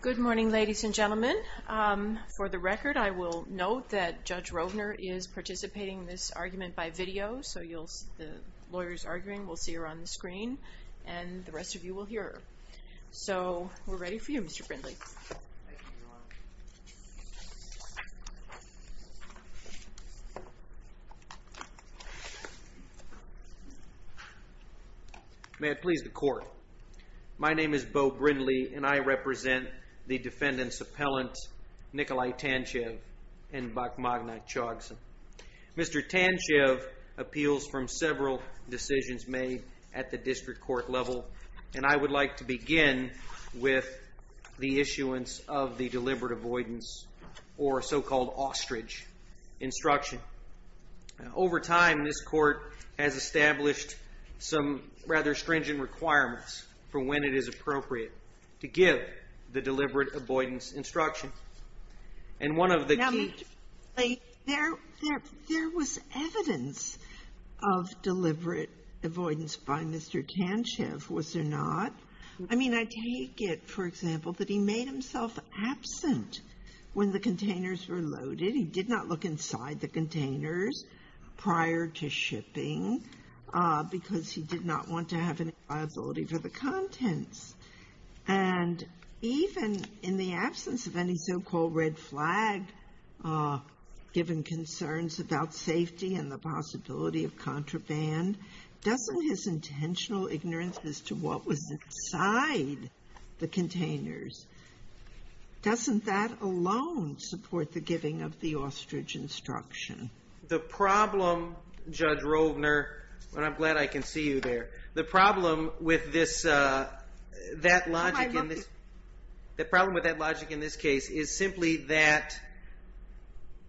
Good morning, ladies and gentlemen. For the record, I will note that Judge Rovner is participating in this argument by video, so you'll see the lawyer's arguing. We'll see her on the screen, and the rest of you will hear her. So, we're ready for you, Mr. Brindley. May I please the court? My name is Beau Brindley, and I represent the defendant's appellant, Nikolai Tantchev and Bakhmagna Chogson. Mr. Tantchev appeals from several decisions made at the district court level, and I would like to begin with the issuance of the deliberate avoidance, or so-called ostrich, instruction. Over time, this court has established some rather stringent requirements for when it is appropriate to give the deliberate avoidance instruction. There was evidence of deliberate avoidance by Mr. Tantchev, was there not? I mean, I take it, for example, that he made himself absent when the containers were loaded. He did not look inside the containers prior to shipping, because he did not want to have any liability for the contents. And even in the absence of any so-called red flag, given concerns about safety and the possibility of contraband, doesn't his intentional ignorance as to what was inside the containers, doesn't that alone support the giving of the ostrich instruction? The problem, Judge Rovner, and I'm glad I can see you there, the problem with that logic in this case is simply that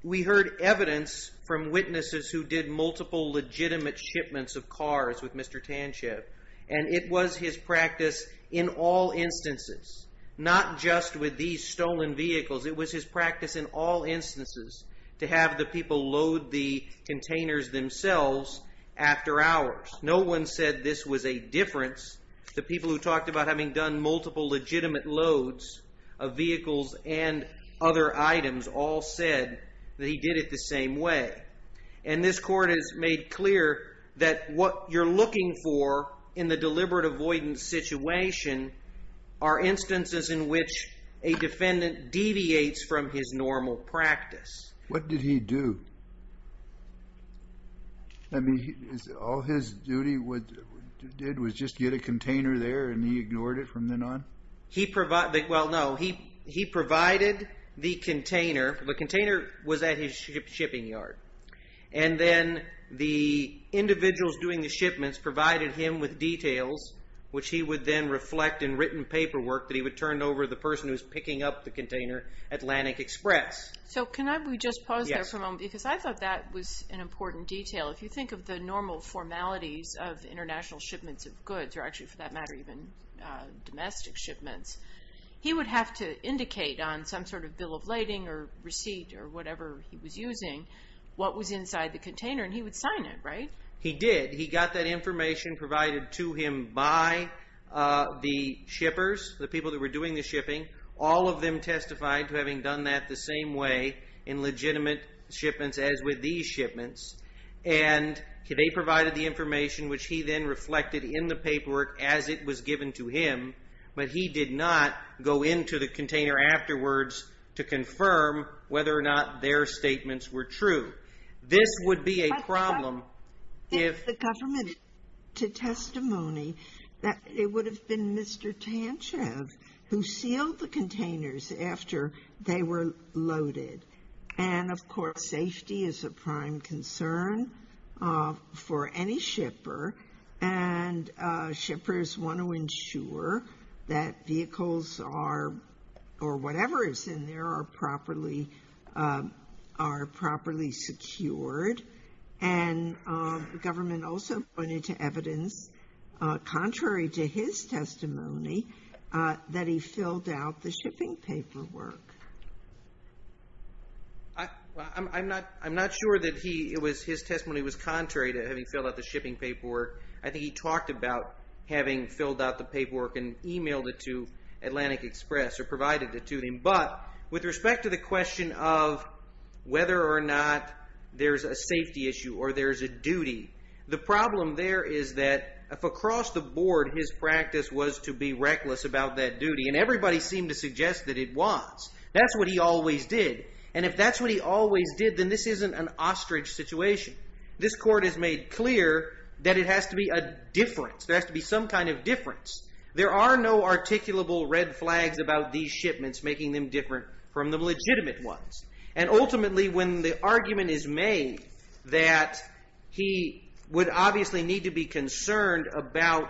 we heard evidence from witnesses who did multiple legitimate shipments of cars with Mr. Tantchev. And it was his practice in all instances, not just with these stolen vehicles, it was his practice in all instances to have the people load the containers themselves after hours. No one said this was a difference. The people who talked about having done multiple legitimate loads of vehicles and other items all said that he did it the same way. And this Court has made clear that what you're looking for in the deliberate avoidance situation are instances in which a defendant deviates from his normal practice. What did he do? I mean, all his duty did was just get a container there and he ignored it from then on? He provided, well no, he provided the container. The container was at his shipping yard. And then the individuals doing the shipments provided him with details, which he would then reflect in written paperwork that he would turn over to the person who's picking up the container at Atlantic Express. So can I just pause there for a moment because I thought that was an important detail. If you think of the normal formalities of international shipments of goods, or actually for that matter even domestic shipments, he would have to indicate on some sort of bill of lading or receipt or whatever he was using what was inside the container and he would sign it, right? He did. He got that information provided to him by the shippers, the people that were doing the shipping. All of them testified to having done that the same way in legitimate shipments as with these shipments. And they provided the information which he then reflected in the paperwork as it was given to him, but he did not go into the container afterwards to confirm whether or not their statements were true. This would be a problem if... And the government also pointed to evidence contrary to his testimony that he filled out the shipping paperwork. I'm not sure that his testimony was contrary to having filled out the shipping paperwork. I think he talked about having filled out the paperwork and emailed it to Atlantic Express or provided it to them, but with respect to the question of whether or not there's a safety issue or there's a duty. The problem there is that if across the board his practice was to be reckless about that duty, and everybody seemed to suggest that it was, that's what he always did. And if that's what he always did, then this isn't an ostrich situation. This court has made clear that it has to be a difference. There has to be some kind of difference. There are no articulable red flags about these shipments making them different from the legitimate ones. And ultimately, when the argument is made that he would obviously need to be concerned about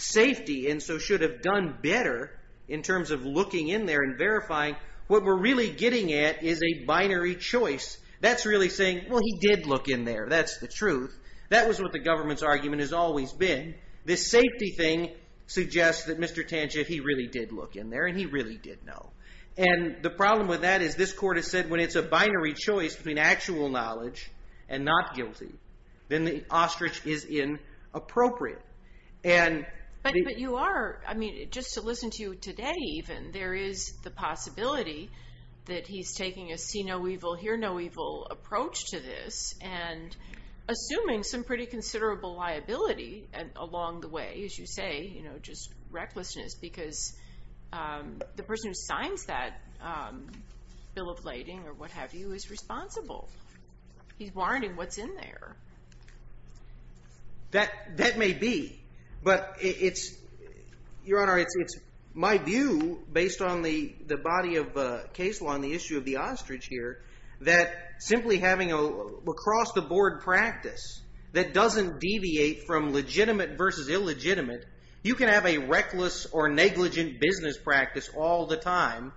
safety and so should have done better in terms of looking in there and verifying, what we're really getting at is a binary choice. That's really saying, well, he did look in there. That's the truth. That was what the government's argument has always been. And this safety thing suggests that Mr. Tangier, he really did look in there and he really did know. And the problem with that is this court has said when it's a binary choice between actual knowledge and not guilty, then the ostrich is inappropriate. But you are, I mean, just to listen to you today even, there is the possibility that he's taking a see no evil, hear no evil approach to this and assuming some pretty considerable liability along the way, as you say, you know, just recklessness because the person who signs that bill of lading or what have you is responsible. He's warning what's in there. That may be. But it's, Your Honor, it's my view based on the body of case law and the issue of the ostrich here that simply having a across the board practice that doesn't deviate from legitimate versus illegitimate, you can have a reckless or negligent business practice all the time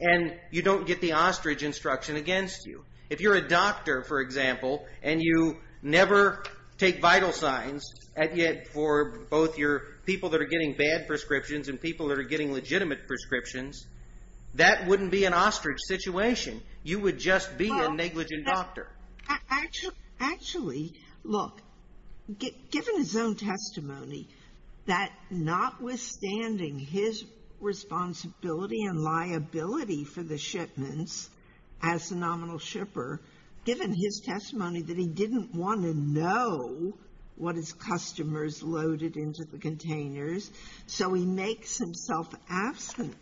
and you don't get the ostrich instruction against you. If you're a doctor, for example, and you never take vital signs and yet for both your people that are getting bad prescriptions and people that are getting legitimate prescriptions, that wouldn't be an ostrich situation. You would just be a negligent doctor. Actually, look, given his own testimony, that notwithstanding his responsibility and liability for the shipments as the nominal shipper, given his testimony that he didn't want to know what his customers loaded into the containers, so he makes himself absent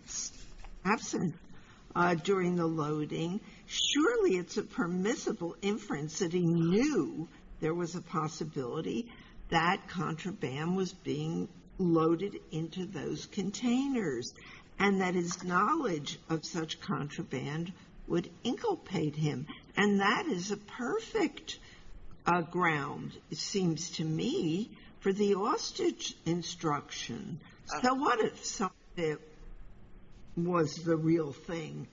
during the loading. Surely it's a permissible inference that he knew there was a possibility that contraband was being loaded into those containers and that his knowledge of such contraband would inculpate him. And that is a perfect ground, it seems to me, for the ostrich instruction. So what if it was the real thing?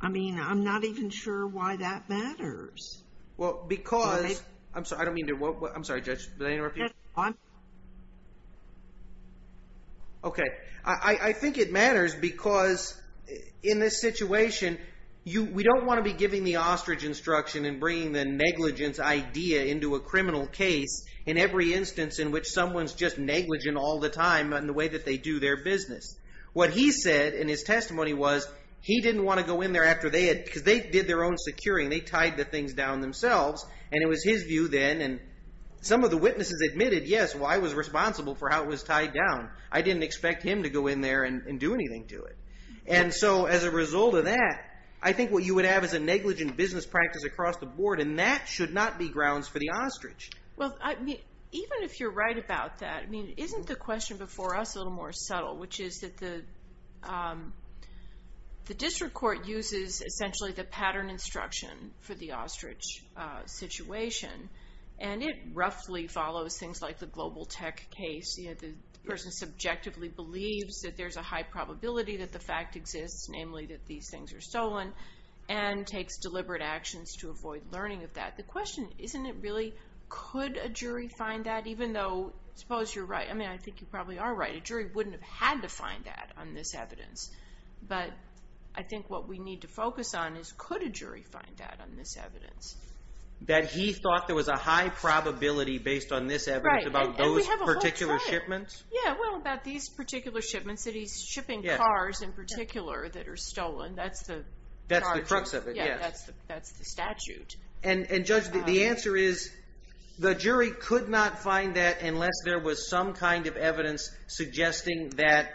I mean, I'm not even sure why that matters. Well, because – I'm sorry, I don't mean to – I'm sorry, Judge, did I interrupt you? Okay, I think it matters because in this situation, we don't want to be giving the ostrich instruction and bringing the negligence idea into a criminal case in every instance in which someone's just negligent all the time in the way that they do their business. What he said in his testimony was he didn't want to go in there after they had – because they did their own securing. They tied the things down themselves, and it was his view then, and some of the witnesses admitted, yes, well, I was responsible for how it was tied down. I didn't expect him to go in there and do anything to it. And so as a result of that, I think what you would have is a negligent business practice across the board, and that should not be grounds for the ostrich. Well, I mean, even if you're right about that, I mean, isn't the question before us a little more subtle, which is that the district court uses essentially the pattern instruction for the ostrich situation, and it roughly follows things like the global tech case. The person subjectively believes that there's a high probability that the fact exists, namely that these things are stolen, and takes deliberate actions to avoid learning of that. The question, isn't it really could a jury find that even though suppose you're right? I mean, I think you probably are right. A jury wouldn't have had to find that on this evidence, but I think what we need to focus on is could a jury find that on this evidence. That he thought there was a high probability based on this evidence about those particular shipments? Yeah, well, about these particular shipments that he's shipping cars in particular that are stolen. That's the charge. That's the crux of it, yes. Yeah, that's the statute. And Judge, the answer is the jury could not find that unless there was some kind of evidence suggesting that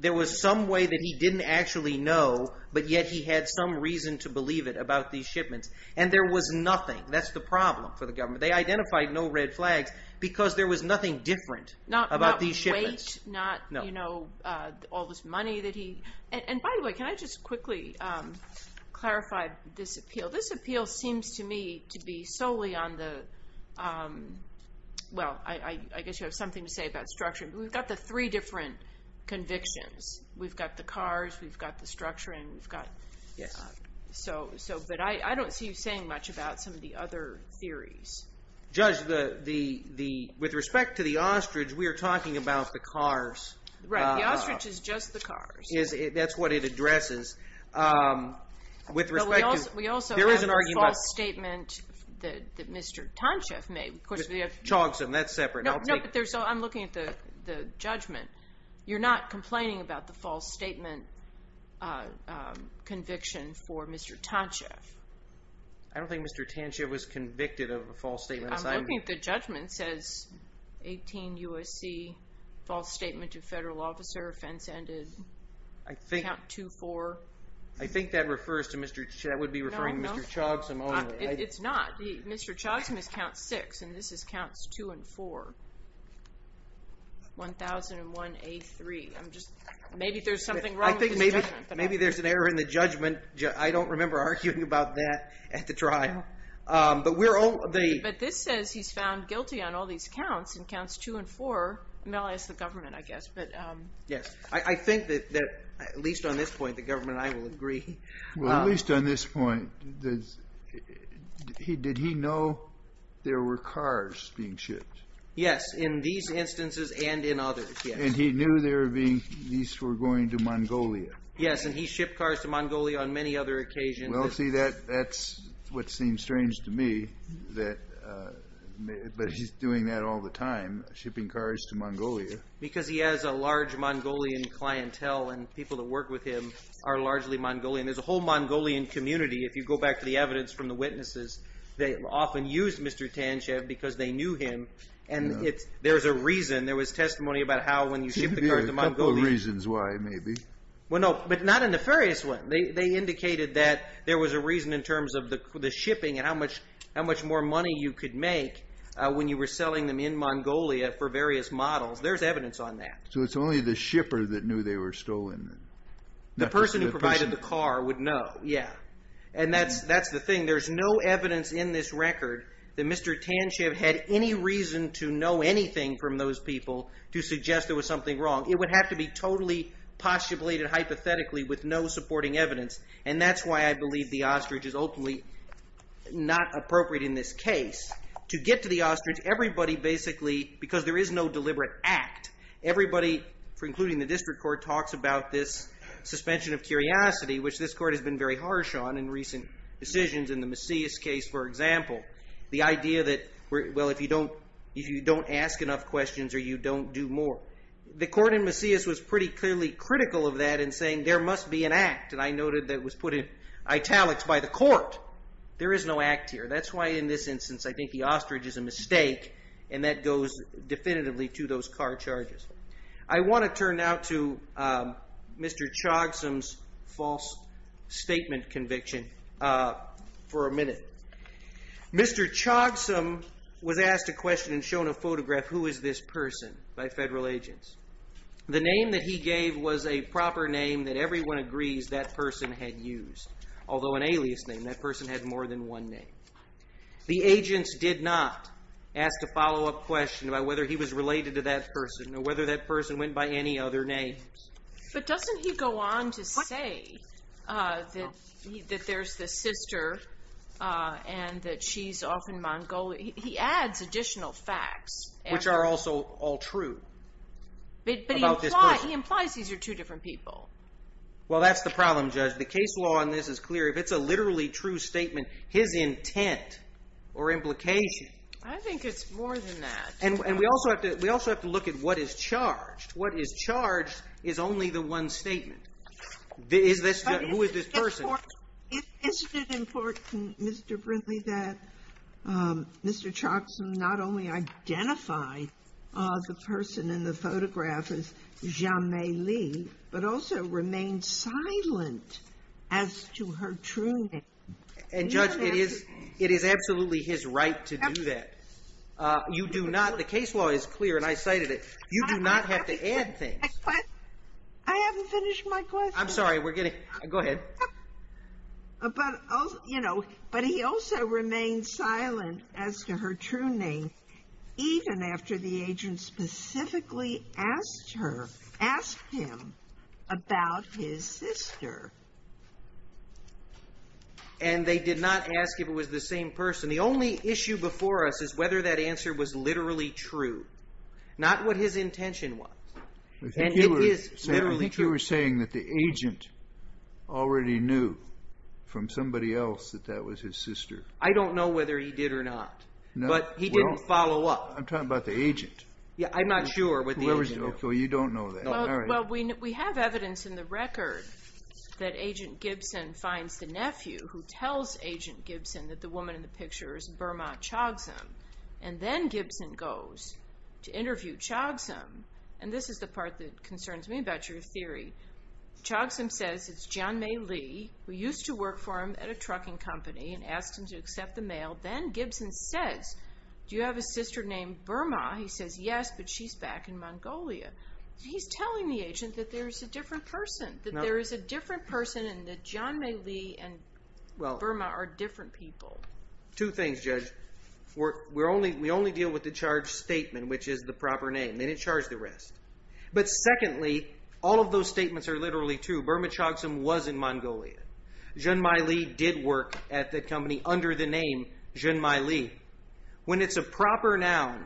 there was some way that he didn't actually know, but yet he had some reason to believe it about these shipments. And there was nothing. That's the problem for the government. They identified no red flags because there was nothing different about these shipments. And by the way, can I just quickly clarify this appeal? This appeal seems to me to be solely on the, well, I guess you have something to say about structure, but we've got the three different convictions. We've got the cars, we've got the structure, and we've got, so, but I don't see you saying much about some of the other theories. Judge, with respect to the ostrich, we are talking about the cars. Right, the ostrich is just the cars. That's what it addresses. With respect to, there is an argument. But we also have the false statement that Mr. Tantchev made. Chogson, that's separate. No, but I'm looking at the judgment. You're not complaining about the false statement conviction for Mr. Tantchev. I don't think Mr. Tantchev was convicted of a false statement. I'm looking at the judgment. It says 18 U.S.C., false statement to federal officer, offense ended. I think. Count 2-4. I think that would be referring to Mr. Chogson only. No, it's not. Mr. Chogson is count 6, and this is counts 2 and 4. 1001A3. I'm just, maybe there's something wrong with this judgment. I don't remember arguing about that at the trial. But this says he's found guilty on all these counts, in counts 2 and 4, as the government, I guess. Yes, I think that, at least on this point, the government and I will agree. Well, at least on this point, did he know there were cars being shipped? Yes, in these instances and in others, yes. And he knew these were going to Mongolia. Yes, and he shipped cars to Mongolia on many other occasions. Well, see, that's what seems strange to me, that he's doing that all the time, shipping cars to Mongolia. Because he has a large Mongolian clientele, and people that work with him are largely Mongolian. There's a whole Mongolian community, if you go back to the evidence from the witnesses, they often used Mr. Tantchev because they knew him, and there's a reason. There was testimony about how, when you ship the cars to Mongolia. No reasons why, maybe. Well, no, but not a nefarious one. They indicated that there was a reason in terms of the shipping and how much more money you could make when you were selling them in Mongolia for various models. There's evidence on that. So it's only the shipper that knew they were stolen. The person who provided the car would know, yeah. And that's the thing. There's no evidence in this record that Mr. Tantchev had any reason to know anything from those people to suggest there was something wrong. It would have to be totally postulated hypothetically with no supporting evidence, and that's why I believe the ostrich is openly not appropriate in this case. To get to the ostrich, everybody basically, because there is no deliberate act, everybody, including the district court, talks about this suspension of curiosity, which this court has been very harsh on in recent decisions in the Macias case, for example. The idea that, well, if you don't ask enough questions or you don't do more. The court in Macias was pretty clearly critical of that in saying there must be an act, and I noted that it was put in italics by the court. There is no act here. That's why in this instance I think the ostrich is a mistake, and that goes definitively to those car charges. I want to turn now to Mr. Chogsom's false statement conviction for a minute. Mr. Chogsom was asked a question and shown a photograph. Who is this person by federal agents? The name that he gave was a proper name that everyone agrees that person had used, although an alias name. That person had more than one name. The agents did not ask a follow-up question about whether he was related to that person or whether that person went by any other names. But doesn't he go on to say that there's this sister and that she's off in Mongolia? He adds additional facts. Which are also all true. But he implies these are two different people. Well, that's the problem, Judge. The case law on this is clear. If it's a literally true statement, his intent or implication. I think it's more than that. And we also have to look at what is charged. What is charged is only the one statement. Who is this person? Isn't it important, Mr. Brindley, that Mr. Chogsom not only identify the person in the photograph as Jamay Lee, but also remain silent as to her true name? And, Judge, it is absolutely his right to do that. You do not. The case law is clear, and I cited it. You do not have to add things. I haven't finished my question. I'm sorry. Go ahead. But he also remains silent as to her true name, even after the agent specifically asked him about his sister. And they did not ask if it was the same person. The only issue before us is whether that answer was literally true. Not what his intention was. I think you were saying that the agent already knew from somebody else that that was his sister. I don't know whether he did or not, but he didn't follow up. I'm talking about the agent. I'm not sure what the agent knew. Well, you don't know that. Well, we have evidence in the record that Agent Gibson finds the nephew who tells Agent Gibson that the woman in the picture is Burma Chogsom, and then Gibson goes to interview Chogsom. And this is the part that concerns me about your theory. Chogsom says it's Jianmei Li who used to work for him at a trucking company and asked him to accept the mail. Then Gibson says, Do you have a sister named Burma? He says, Yes, but she's back in Mongolia. He's telling the agent that there's a different person, that there is a different person and that Jianmei Li and Burma are different people. Two things, Judge. We only deal with the charged statement, which is the proper name, and then it's charged the rest. But secondly, all of those statements are literally true. Burma Chogsom was in Mongolia. Jianmei Li did work at that company under the name Jianmei Li. When it's a proper noun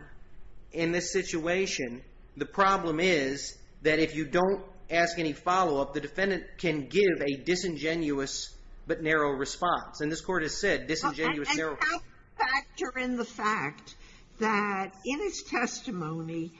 in this situation, the problem is that if you don't ask any follow-up, the defendant can give a disingenuous but narrow response. And this Court has said disingenuous, narrow response. And can I factor in the fact that in his testimony,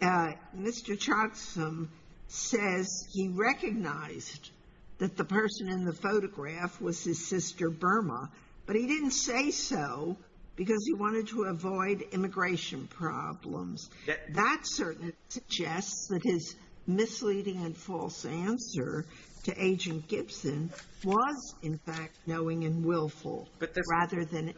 Mr. Chogsom says he recognized that the person in the photograph was his sister Burma, but he didn't say so because he wanted to avoid immigration problems. That certainly suggests that his misleading and false answer to Agent Gibson was, in fact, knowing and willful rather than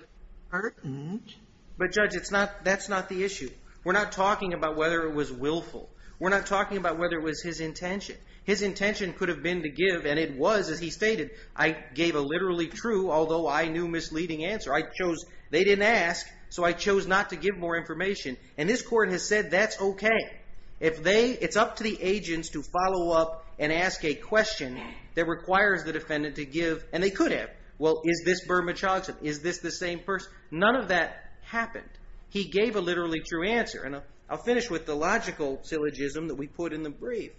pertinent. But, Judge, that's not the issue. We're not talking about whether it was willful. We're not talking about whether it was his intention. His intention could have been to give, and it was, as he stated, I gave a literally true although I knew misleading answer. They didn't ask, so I chose not to give more information. And this Court has said that's okay. It's up to the agents to follow up and ask a question that requires the defendant to give. And they could have. Well, is this Burma Chogsom? Is this the same person? None of that happened. He gave a literally true answer. And I'll finish with the logical syllogism that we put in the brief.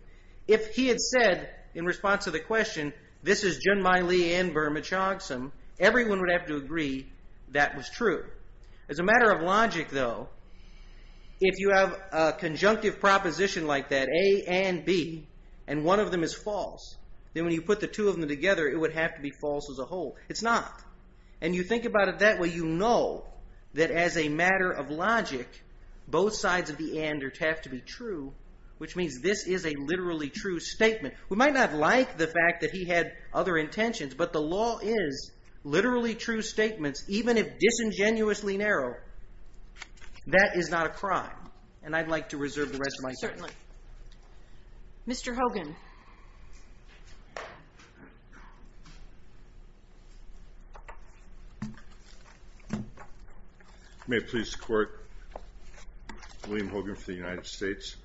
If he had said in response to the question, this is Junmai Lee and Burma Chogsom, everyone would have to agree that was true. As a matter of logic, though, if you have a conjunctive proposition like that, A and B, and one of them is false, then when you put the two of them together, it would have to be false as a whole. It's not. And you think about it that way, you know that as a matter of logic, both sides of the ander have to be true, which means this is a literally true statement. We might not like the fact that he had other intentions, but the law is literally true statements, even if disingenuously narrow. That is not a crime. And I'd like to reserve the rest of my time. Certainly. Mr. Hogan. May it please the Court. William Hogan for the United States.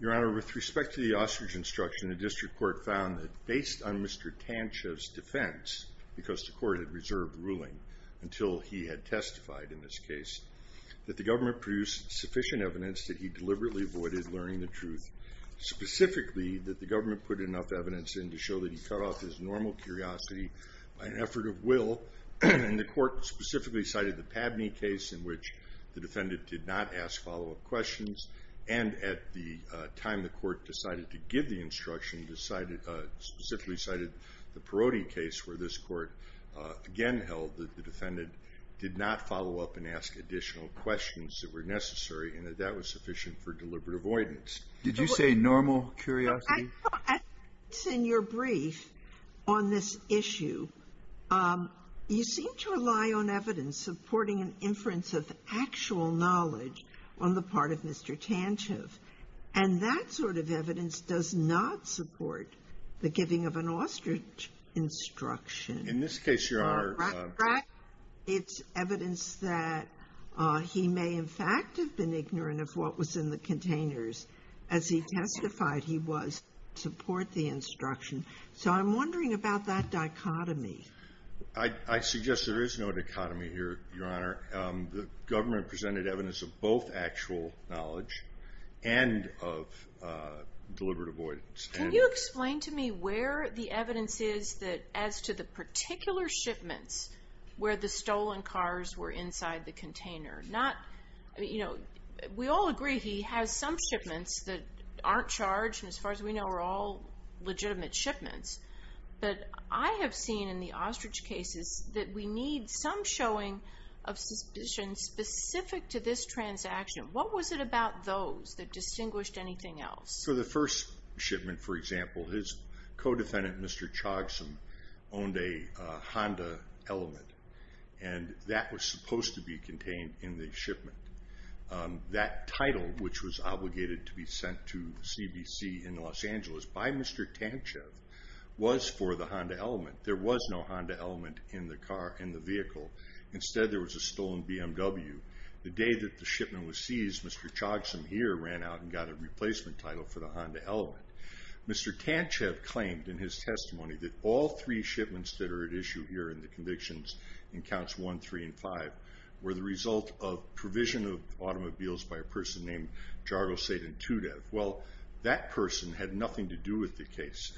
Your Honor, with respect to the ostrich instruction, the district court found that based on Mr. Tanchev's defense, because the court had reserved ruling until he had testified in this case, that the government produced sufficient evidence that he deliberately avoided learning the truth, specifically that the government put enough evidence in to show that he cut off his normal curiosity by an effort of will. And the court specifically cited the Pabney case in which the defendant did not ask follow-up questions, and at the time the court decided to give the instruction, specifically cited the Perotti case, where this court again held that the defendant did not follow up and ask additional questions that were necessary and that that was sufficient for deliberate avoidance. Did you say normal curiosity? I thought in your brief on this issue, you seem to rely on evidence supporting an inference of actual knowledge on the part of Mr. Tanchev. And that sort of evidence does not support the giving of an ostrich instruction. In this case, Your Honor. It's evidence that he may in fact have been ignorant of what was in the containers as he testified he was to support the instruction. So I'm wondering about that dichotomy. I suggest there is no dichotomy here, Your Honor. The government presented evidence of both actual knowledge and of deliberate avoidance. Can you explain to me where the evidence is as to the particular shipments where the stolen cars were inside the container? We all agree he has some shipments that aren't charged, and as far as we know are all legitimate shipments. But I have seen in the ostrich cases that we need some showing of suspicion specific to this transaction. What was it about those that distinguished anything else? For the first shipment, for example, his co-defendant, Mr. Chogsom, owned a Honda Element, and that was supposed to be contained in the shipment. That title, which was obligated to be sent to the CBC in Los Angeles by Mr. Tanchev, was for the Honda Element. There was no Honda Element in the vehicle. Instead, there was a stolen BMW. The day that the shipment was seized, Mr. Chogsom here ran out and got a replacement title for the Honda Element. Mr. Tanchev claimed in his testimony that all three shipments that are at issue here in the convictions in Counts 1, 3, and 5 were the result of provision of automobiles by a person named Jargo Seydin Tudev. Well, that person had nothing to do with the case,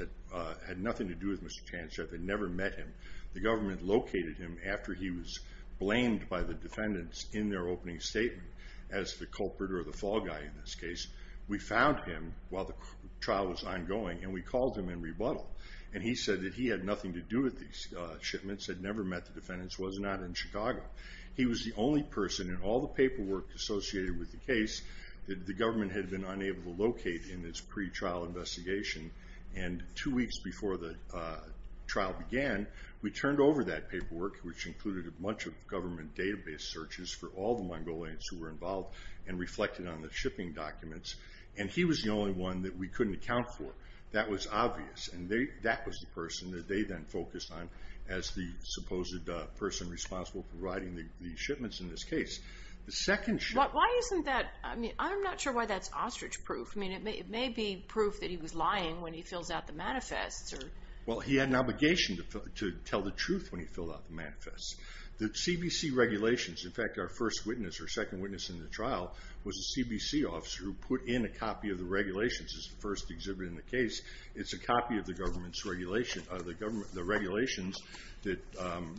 had nothing to do with Mr. Tanchev, had never met him. The government located him after he was blamed by the defendants in their opening statement as the culprit or the fall guy in this case. We found him while the trial was ongoing, and we called him in rebuttal. He said that he had nothing to do with these shipments, had never met the defendants, was not in Chicago. He was the only person in all the paperwork associated with the case that the government had been unable to locate in its pretrial investigation. Two weeks before the trial began, we turned over that paperwork, which included a bunch of government database searches for all the Mongolians who were involved and reflected on the shipping documents, and he was the only one that we couldn't account for. That was obvious, and that was the person that they then focused on as the supposed person responsible for providing the shipments in this case. The second ship— Why isn't that—I mean, I'm not sure why that's ostrich proof. I mean, it may be proof that he was lying when he fills out the manifests. Well, he had an obligation to tell the truth when he filled out the manifests. The CBC regulations—in fact, our first witness or second witness in the trial was a CBC officer who put in a copy of the regulations. This is the first exhibit in the case. It's a copy of the government's regulations that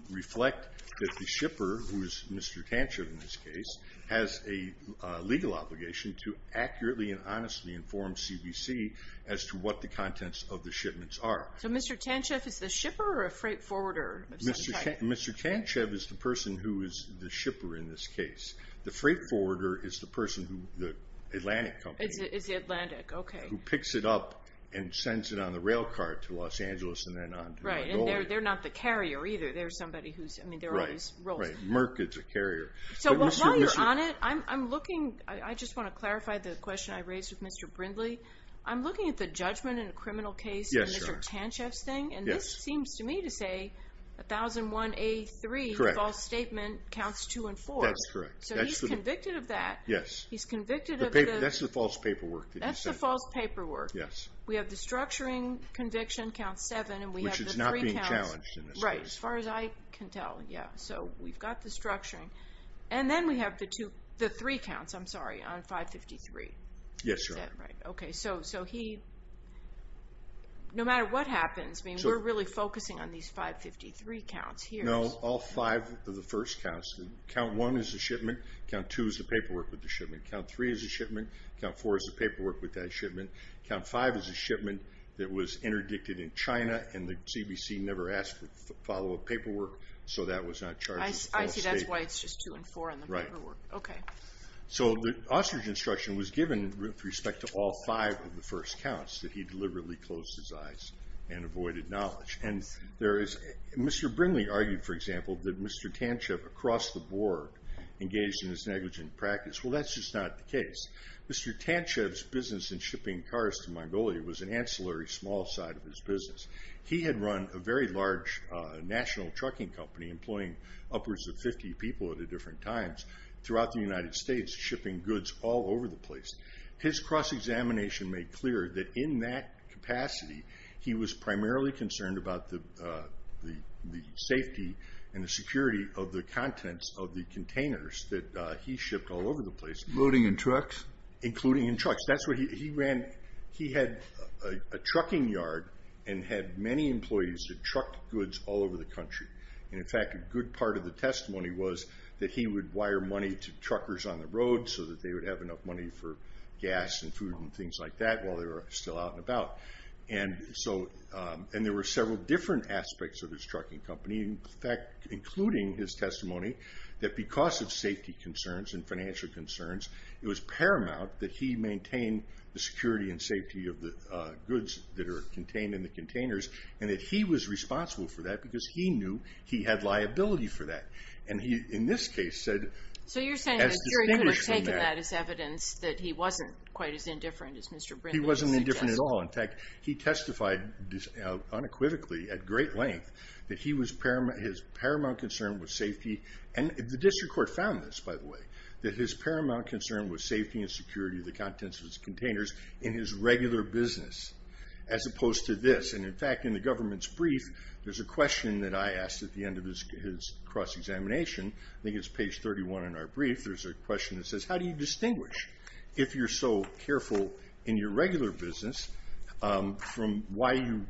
reflect that the shipper, who is Mr. Tancher in this case, has a legal obligation to accurately and honestly inform CBC as to what the contents of the shipments are. So Mr. Tancher is the shipper or a freight forwarder of some type? Mr. Tancher is the person who is the shipper in this case. The freight forwarder is the person who the Atlantic Company— It's the Atlantic, okay. —who picks it up and sends it on the rail car to Los Angeles and then on to Mongolia. Right, and they're not the carrier either. They're somebody who's—I mean, there are all these roles. Right, Merck is a carrier. So while you're on it, I'm looking— I just want to clarify the question I raised with Mr. Brindley. I'm looking at the judgment in a criminal case in Mr. Tancher's thing, and this seems to me to say 1001A3, the false statement, counts two and four. That's correct. So he's convicted of that. Yes. He's convicted of the— That's the false paperwork that he said. That's the false paperwork. Yes. We have the structuring conviction counts seven, and we have the three counts— Which is not being challenged in this case. Right, as far as I can tell, yeah. So we've got the structuring. And then we have the three counts, I'm sorry, on 553. Yes, Your Honor. Is that right? Okay, so he—no matter what happens, we're really focusing on these 553 counts here. No, all five of the first counts. Count one is the shipment. Count two is the paperwork with the shipment. Count three is the shipment. Count four is the paperwork with that shipment. Count five is the shipment that was interdicted in China, so that was not charged as a false statement. I see, that's why it's just two and four on the paperwork. Right. Okay. So the ostrich instruction was given with respect to all five of the first counts, that he deliberately closed his eyes and avoided knowledge. And there is—Mr. Brinley argued, for example, that Mr. Tantchev across the board engaged in this negligent practice. Well, that's just not the case. Mr. Tantchev's business in shipping cars to Mongolia was an ancillary small side of his business. He had run a very large national trucking company employing upwards of 50 people at different times throughout the United States, shipping goods all over the place. His cross-examination made clear that in that capacity, he was primarily concerned about the safety and the security of the contents of the containers that he shipped all over the place. Loading in trucks? Including in trucks. He had a trucking yard and had many employees that trucked goods all over the country. And, in fact, a good part of the testimony was that he would wire money to truckers on the road so that they would have enough money for gas and food and things like that while they were still out and about. And there were several different aspects of his trucking company, in fact, including his testimony, that because of safety concerns and financial concerns, it was paramount that he maintain the security and safety of the goods that are contained in the containers and that he was responsible for that because he knew he had liability for that. And he, in this case, said as distinguished from that. So you're saying the jury could have taken that as evidence that he wasn't quite as indifferent as Mr. Brindley suggested? He wasn't indifferent at all. In fact, he testified unequivocally at great length that his paramount concern was safety. And the district court found this, by the way, that his paramount concern was safety and security of the contents of his containers in his regular business as opposed to this. And, in fact, in the government's brief, there's a question that I asked at the end of his cross-examination. I think it's page 31 in our brief. There's a question that says, how do you distinguish if you're so careful in your regular business from why you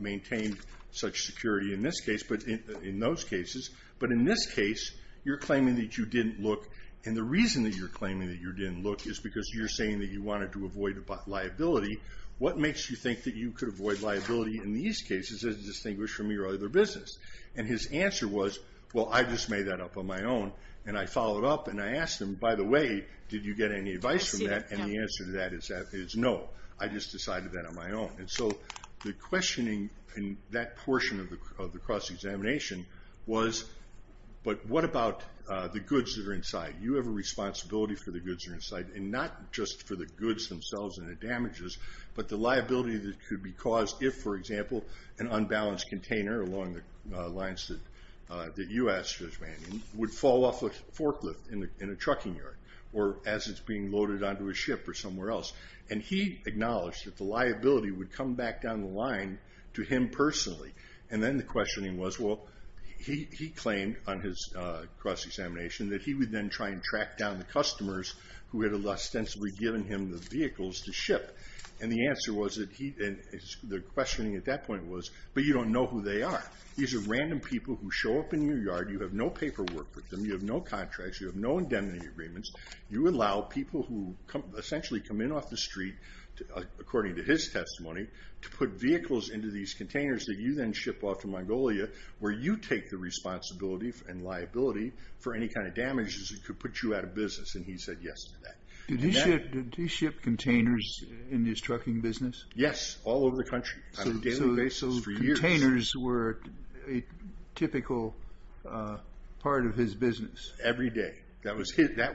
maintain such security in those cases? But in this case, you're claiming that you didn't look. And the reason that you're claiming that you didn't look is because you're saying that you wanted to avoid liability. What makes you think that you could avoid liability in these cases as distinguished from your other business? And his answer was, well, I just made that up on my own. And I followed up and I asked him, by the way, did you get any advice from that? And the answer to that is no. I just decided that on my own. And so the questioning in that portion of the cross-examination was, but what about the goods that are inside? You have a responsibility for the goods that are inside, and not just for the goods themselves and the damages, but the liability that could be caused if, for example, an unbalanced container along the lines that you asked, Judge Manning, would fall off a forklift in a trucking yard or as it's being loaded onto a ship or somewhere else. And he acknowledged that the liability would come back down the line to him personally. And then the questioning was, well, he claimed on his cross-examination that he would then try and track down the customers who had ostensibly given him the vehicles to ship. And the question at that point was, but you don't know who they are. These are random people who show up in your yard. You have no paperwork with them. You have no contracts. You have no indemnity agreements. You allow people who essentially come in off the street, according to his testimony, to put vehicles into these containers that you then ship off to Mongolia where you take the responsibility and liability for any kind of damages that could put you out of business. And he said yes to that. Did he ship containers in his trucking business? Yes, all over the country on a daily basis for years. So containers were a typical part of his business? Every day. That was his business,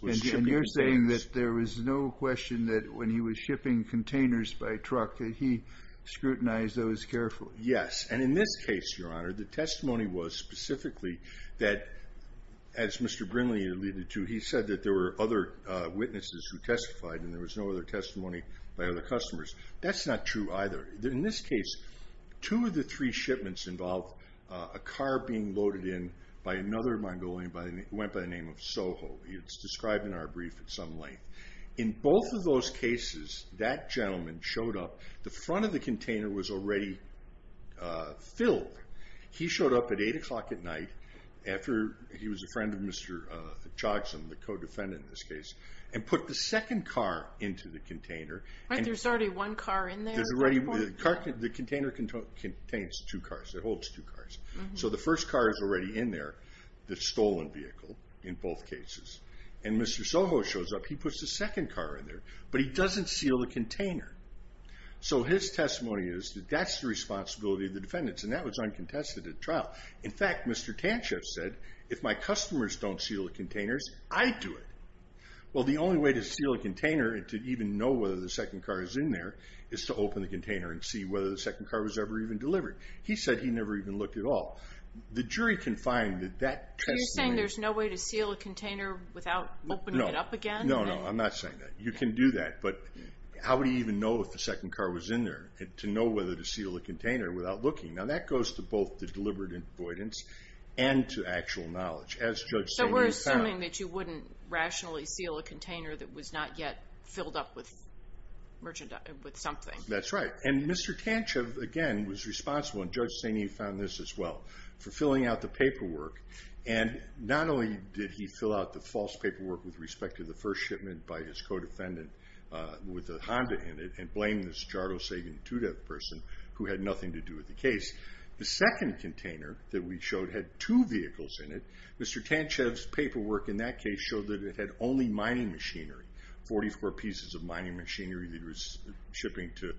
was shipping containers. And you're saying that there was no question that when he was shipping containers by truck that he scrutinized those carefully? And in this case, Your Honor, the testimony was specifically that, as Mr. Brinley alluded to, he said that there were other witnesses who testified and there was no other testimony by other customers. That's not true either. In this case, two of the three shipments involved a car being loaded in by another Mongolian who went by the name of Soho. It's described in our brief at some length. In both of those cases, that gentleman showed up. The front of the container was already filled. He showed up at 8 o'clock at night after he was a friend of Mr. Chogsom, the co-defendant in this case, and put the second car into the container. There's already one car in there? The container contains two cars. It holds two cars. So the first car is already in there, the stolen vehicle, in both cases. And Mr. Soho shows up. He puts the second car in there, but he doesn't seal the container. So his testimony is that that's the responsibility of the defendants, and that was uncontested at trial. In fact, Mr. Tantchev said, if my customers don't seal the containers, I do it. Well, the only way to seal a container and to even know whether the second car is in there is to open the container and see whether the second car was ever even delivered. He said he never even looked at all. The jury can find that that testimony. You're saying there's no way to seal a container without opening it up again? No, no, I'm not saying that. You can do that, but how would he even know if the second car was in there to know whether to seal a container without looking? Now, that goes to both the deliberate avoidance and to actual knowledge, as Judge Stanton found. So we're assuming that you wouldn't rationally seal a container that was not yet filled up with merchandise, with something. That's right. And Mr. Tantchev, again, was responsible, and Judge Stanton found this as well, for filling out the paperwork, and not only did he fill out the false paperwork with respect to the first shipment by his co-defendant with a Honda in it and blame this Giardo Sagan 2-Dev person who had nothing to do with the case. The second container that we showed had two vehicles in it. Mr. Tantchev's paperwork in that case showed that it had only mining machinery, 44 pieces of mining machinery that he was shipping to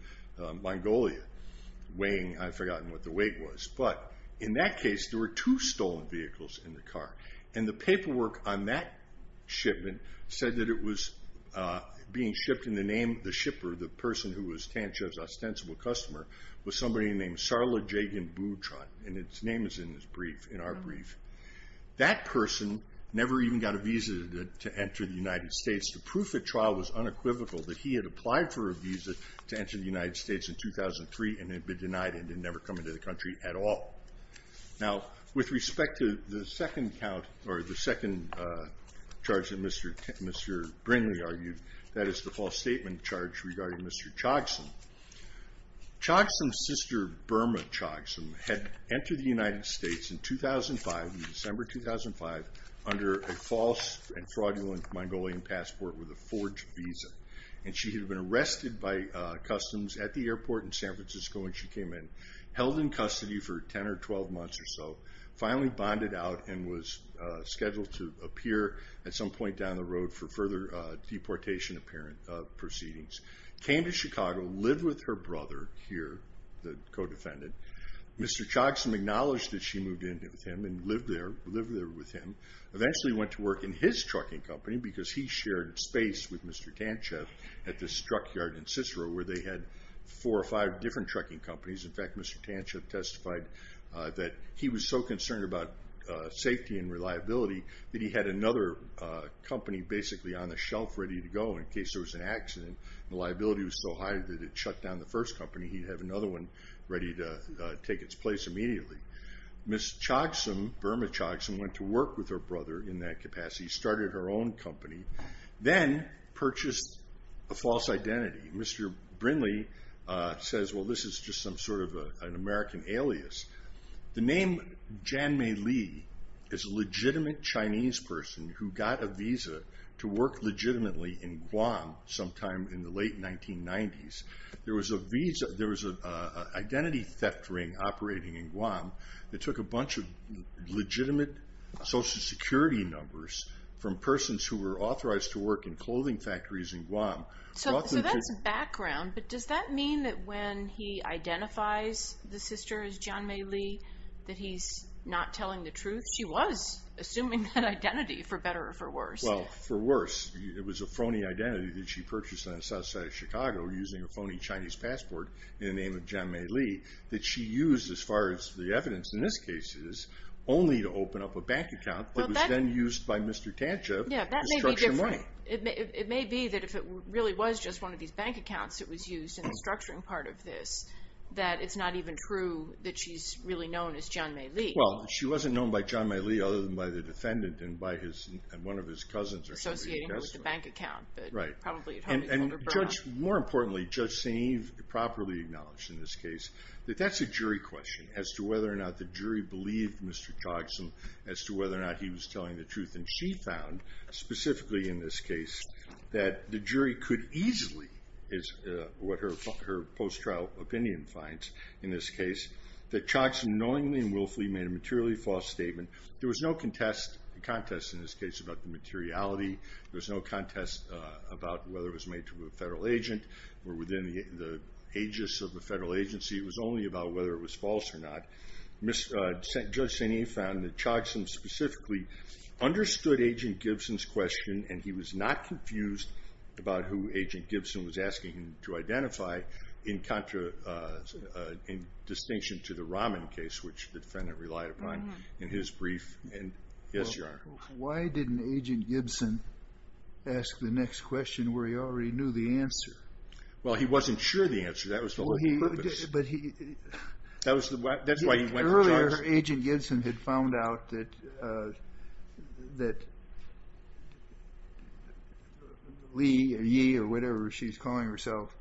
Mongolia, weighing, I've forgotten what the weight was. But in that case, there were two stolen vehicles in the car, and the paperwork on that shipment said that it was being shipped in the name of the shipper, the person who was Tantchev's ostensible customer, was somebody named Sarla Jagan Boutron, and its name is in our brief. That person never even got a visa to enter the United States The proof at trial was unequivocal that he had applied for a visa to enter the United States in 2003 and had been denied and had never come into the country at all. Now, with respect to the second charge that Mr. Brinley argued, that is the false statement charge regarding Mr. Chogsum, Chogsum's sister, Burma Chogsum, had entered the United States in 2005, December 2005, under a false and fraudulent Mongolian passport with a forged visa. And she had been arrested by customs at the airport in San Francisco when she came in, held in custody for 10 or 12 months or so, finally bonded out and was scheduled to appear at some point down the road for further deportation proceedings. Came to Chicago, lived with her brother here, the co-defendant. Mr. Chogsum acknowledged that she moved in with him and lived there with him. Eventually went to work in his trucking company because he shared space with Mr. Tantchev at this truck yard in Cicero where they had four or five different trucking companies. In fact, Mr. Tantchev testified that he was so concerned about safety and reliability that he had another company basically on the shelf ready to go in case there was an accident and the liability was so high that it shut down the first company. He'd have another one ready to take its place immediately. Ms. Chogsum, Verma Chogsum, went to work with her brother in that capacity, started her own company, then purchased a false identity. Mr. Brinley says, well, this is just some sort of an American alias. The name Jan Mei Lee is a legitimate Chinese person who got a visa to work legitimately in Guam sometime in the late 1990s. There was an identity theft ring operating in Guam that took a bunch of legitimate Social Security numbers from persons who were authorized to work in clothing factories in Guam. So that's background, but does that mean that when he identifies the sister as Jan Mei Lee that he's not telling the truth? She was assuming that identity for better or for worse. Well, for worse. It was a phony identity that she purchased on the south side of Chicago using a phony Chinese passport in the name of Jan Mei Lee that she used, as far as the evidence in this case is, only to open up a bank account that was then used by Mr. Tantchev to structure money. It may be that if it really was just one of these bank accounts that was used in the structuring part of this that it's not even true that she's really known as Jan Mei Lee. Well, she wasn't known by Jan Mei Lee other than by the defendant and by one of his cousins. Associating with the bank account. Right. And more importantly, Judge St. Eve properly acknowledged in this case that that's a jury question as to whether or not the jury believed Mr. Chogsom as to whether or not he was telling the truth. And she found, specifically in this case, that the jury could easily, is what her post-trial opinion finds in this case, that Chogsom knowingly and willfully made a materially false statement. There was no contest in this case about the materiality. There was no contest about whether it was made to a federal agent or within the aegis of the federal agency. It was only about whether it was false or not. Judge St. Eve found that Chogsom specifically understood Agent Gibson's question, and he was not confused about who Agent Gibson was asking him to identify, in distinction to the Rahman case, which the defendant relied upon in his brief. Yes, Your Honor. Why didn't Agent Gibson ask the next question where he already knew the answer? Well, he wasn't sure of the answer. That was the logic of this. That's why he went to charge. Her agent Gibson had found out that Lee, or Yee, or whatever she's calling herself,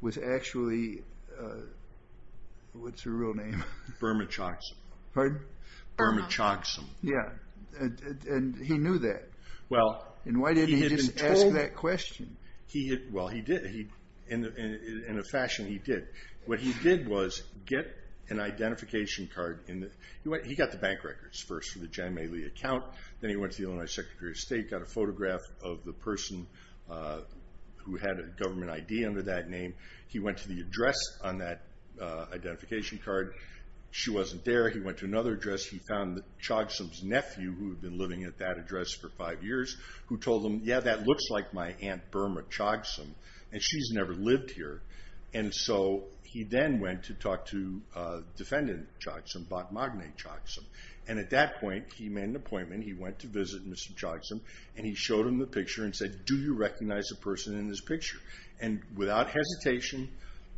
was actually, what's her real name? Burma Chogsom. Pardon? Burma Chogsom. Yeah. And he knew that. And why didn't he just ask that question? Well, he did, in a fashion he did. What he did was get an identification card. He got the bank records first for the Jan May Lee account, then he went to the Illinois Secretary of State, got a photograph of the person who had a government ID under that name. He went to the address on that identification card. She wasn't there. He went to another address. He found Chogsom's nephew, who had been living at that address for five years, who told him, yeah, that looks like my Aunt Burma Chogsom, and she's never lived here. And so he then went to talk to Defendant Chogsom, Bhatmagne Chogsom, and at that point he made an appointment. He went to visit Mr. Chogsom, and he showed him the picture and said, do you recognize the person in this picture? And without hesitation,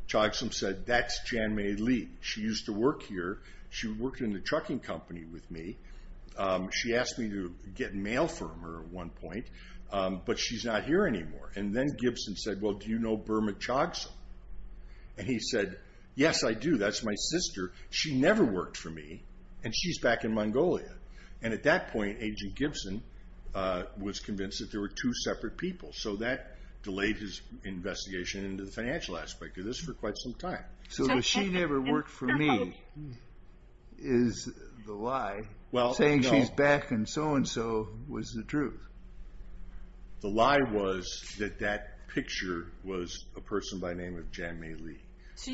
Chogsom said, that's Jan May Lee. She used to work here. She worked in the trucking company with me. She asked me to get mail for her at one point, but she's not here anymore. And then Gibson said, well, do you know Burma Chogsom? And he said, yes, I do. That's my sister. She never worked for me, and she's back in Mongolia. And at that point, Agent Gibson was convinced that there were two separate people. So that delayed his investigation into the financial aspect of this for quite some time. So that she never worked for me is the lie. Saying she's back and so-and-so was the truth. The lie was that that picture was a person by the name of Jan May Lee.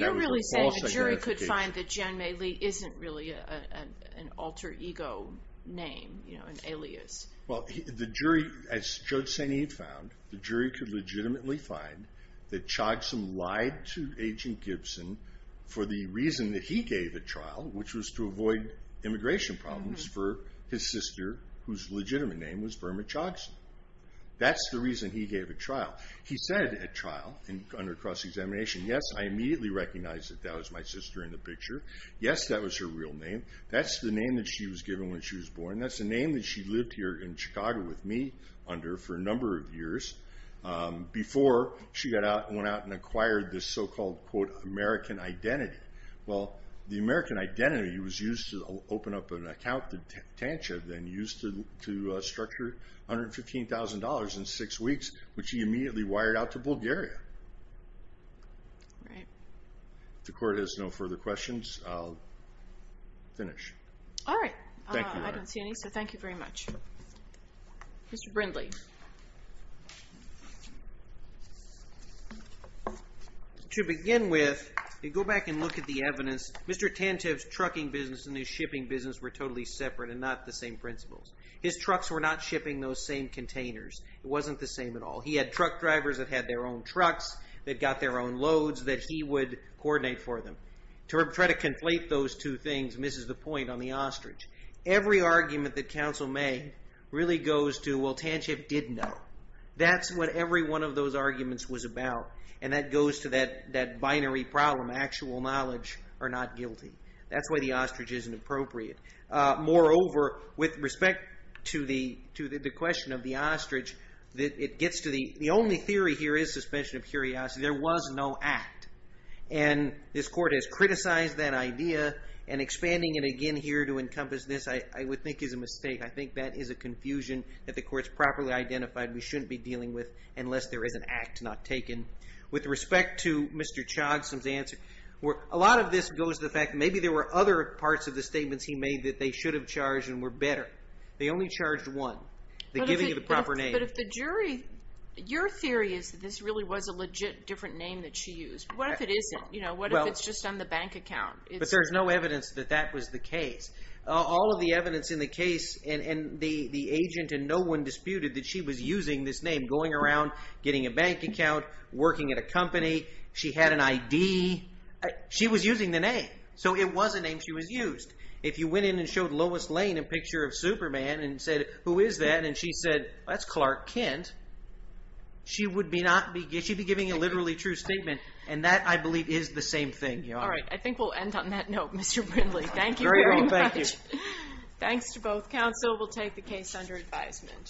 That was a false identification. So you're really saying the jury could find that Jan May Lee isn't really an alter ego name, an alias? Well, the jury, as Judge St. Eve found, the jury could legitimately find that Chogsom lied to Agent Gibson for the reason that he gave at trial, which was to avoid immigration problems for his sister, whose legitimate name was Burma Chogsom. That's the reason he gave at trial. He said at trial, under cross-examination, yes, I immediately recognized that that was my sister in the picture. Yes, that was her real name. That's the name that she was given when she was born. That's the name that she lived here in Chicago with me under for a number of years before she went out and acquired this so-called, quote, American identity. Well, the American identity was used to open up an account, the tantra then used to structure $115,000 in six weeks, which he immediately wired out to Bulgaria. All right. If the Court has no further questions, I'll finish. All right. Thank you. I don't see any, so thank you very much. Mr. Brindley. Thank you. To begin with, you go back and look at the evidence. Mr. Tantive's trucking business and his shipping business were totally separate and not the same principles. His trucks were not shipping those same containers. It wasn't the same at all. He had truck drivers that had their own trucks that got their own loads that he would coordinate for them. To try to conflate those two things misses the point on the ostrich. Every argument that counsel made really goes to, well, Tantive did know. That's what every one of those arguments was about, and that goes to that binary problem, actual knowledge or not guilty. That's why the ostrich isn't appropriate. Moreover, with respect to the question of the ostrich, it gets to the only theory here is suspension of curiosity. There was no act. And this Court has criticized that idea and expanding it again here to encompass this I would think is a mistake. I think that is a confusion that the Court has properly identified we shouldn't be dealing with unless there is an act not taken. With respect to Mr. Chogson's answer, a lot of this goes to the fact that maybe there were other parts of the statements he made that they should have charged and were better. They only charged one, the giving of the proper name. But if the jury, your theory is that this really was a legit different name that she used. What if it isn't? What if it's just on the bank account? But there's no evidence that that was the case. All of the evidence in the case, and the agent and no one disputed that she was using this name, going around, getting a bank account, working at a company. She had an ID. She was using the name. So it was a name she was used. If you went in and showed Lois Lane a picture of Superman and said, who is that? And she said, that's Clark Kent. She would be giving a literally true statement. And that, I believe, is the same thing, Your Honor. All right. I think we'll end on that note, Mr. Brindley. Thank you very much. Very well. Thank you. Thanks to both counsel. We'll take the case under advisement.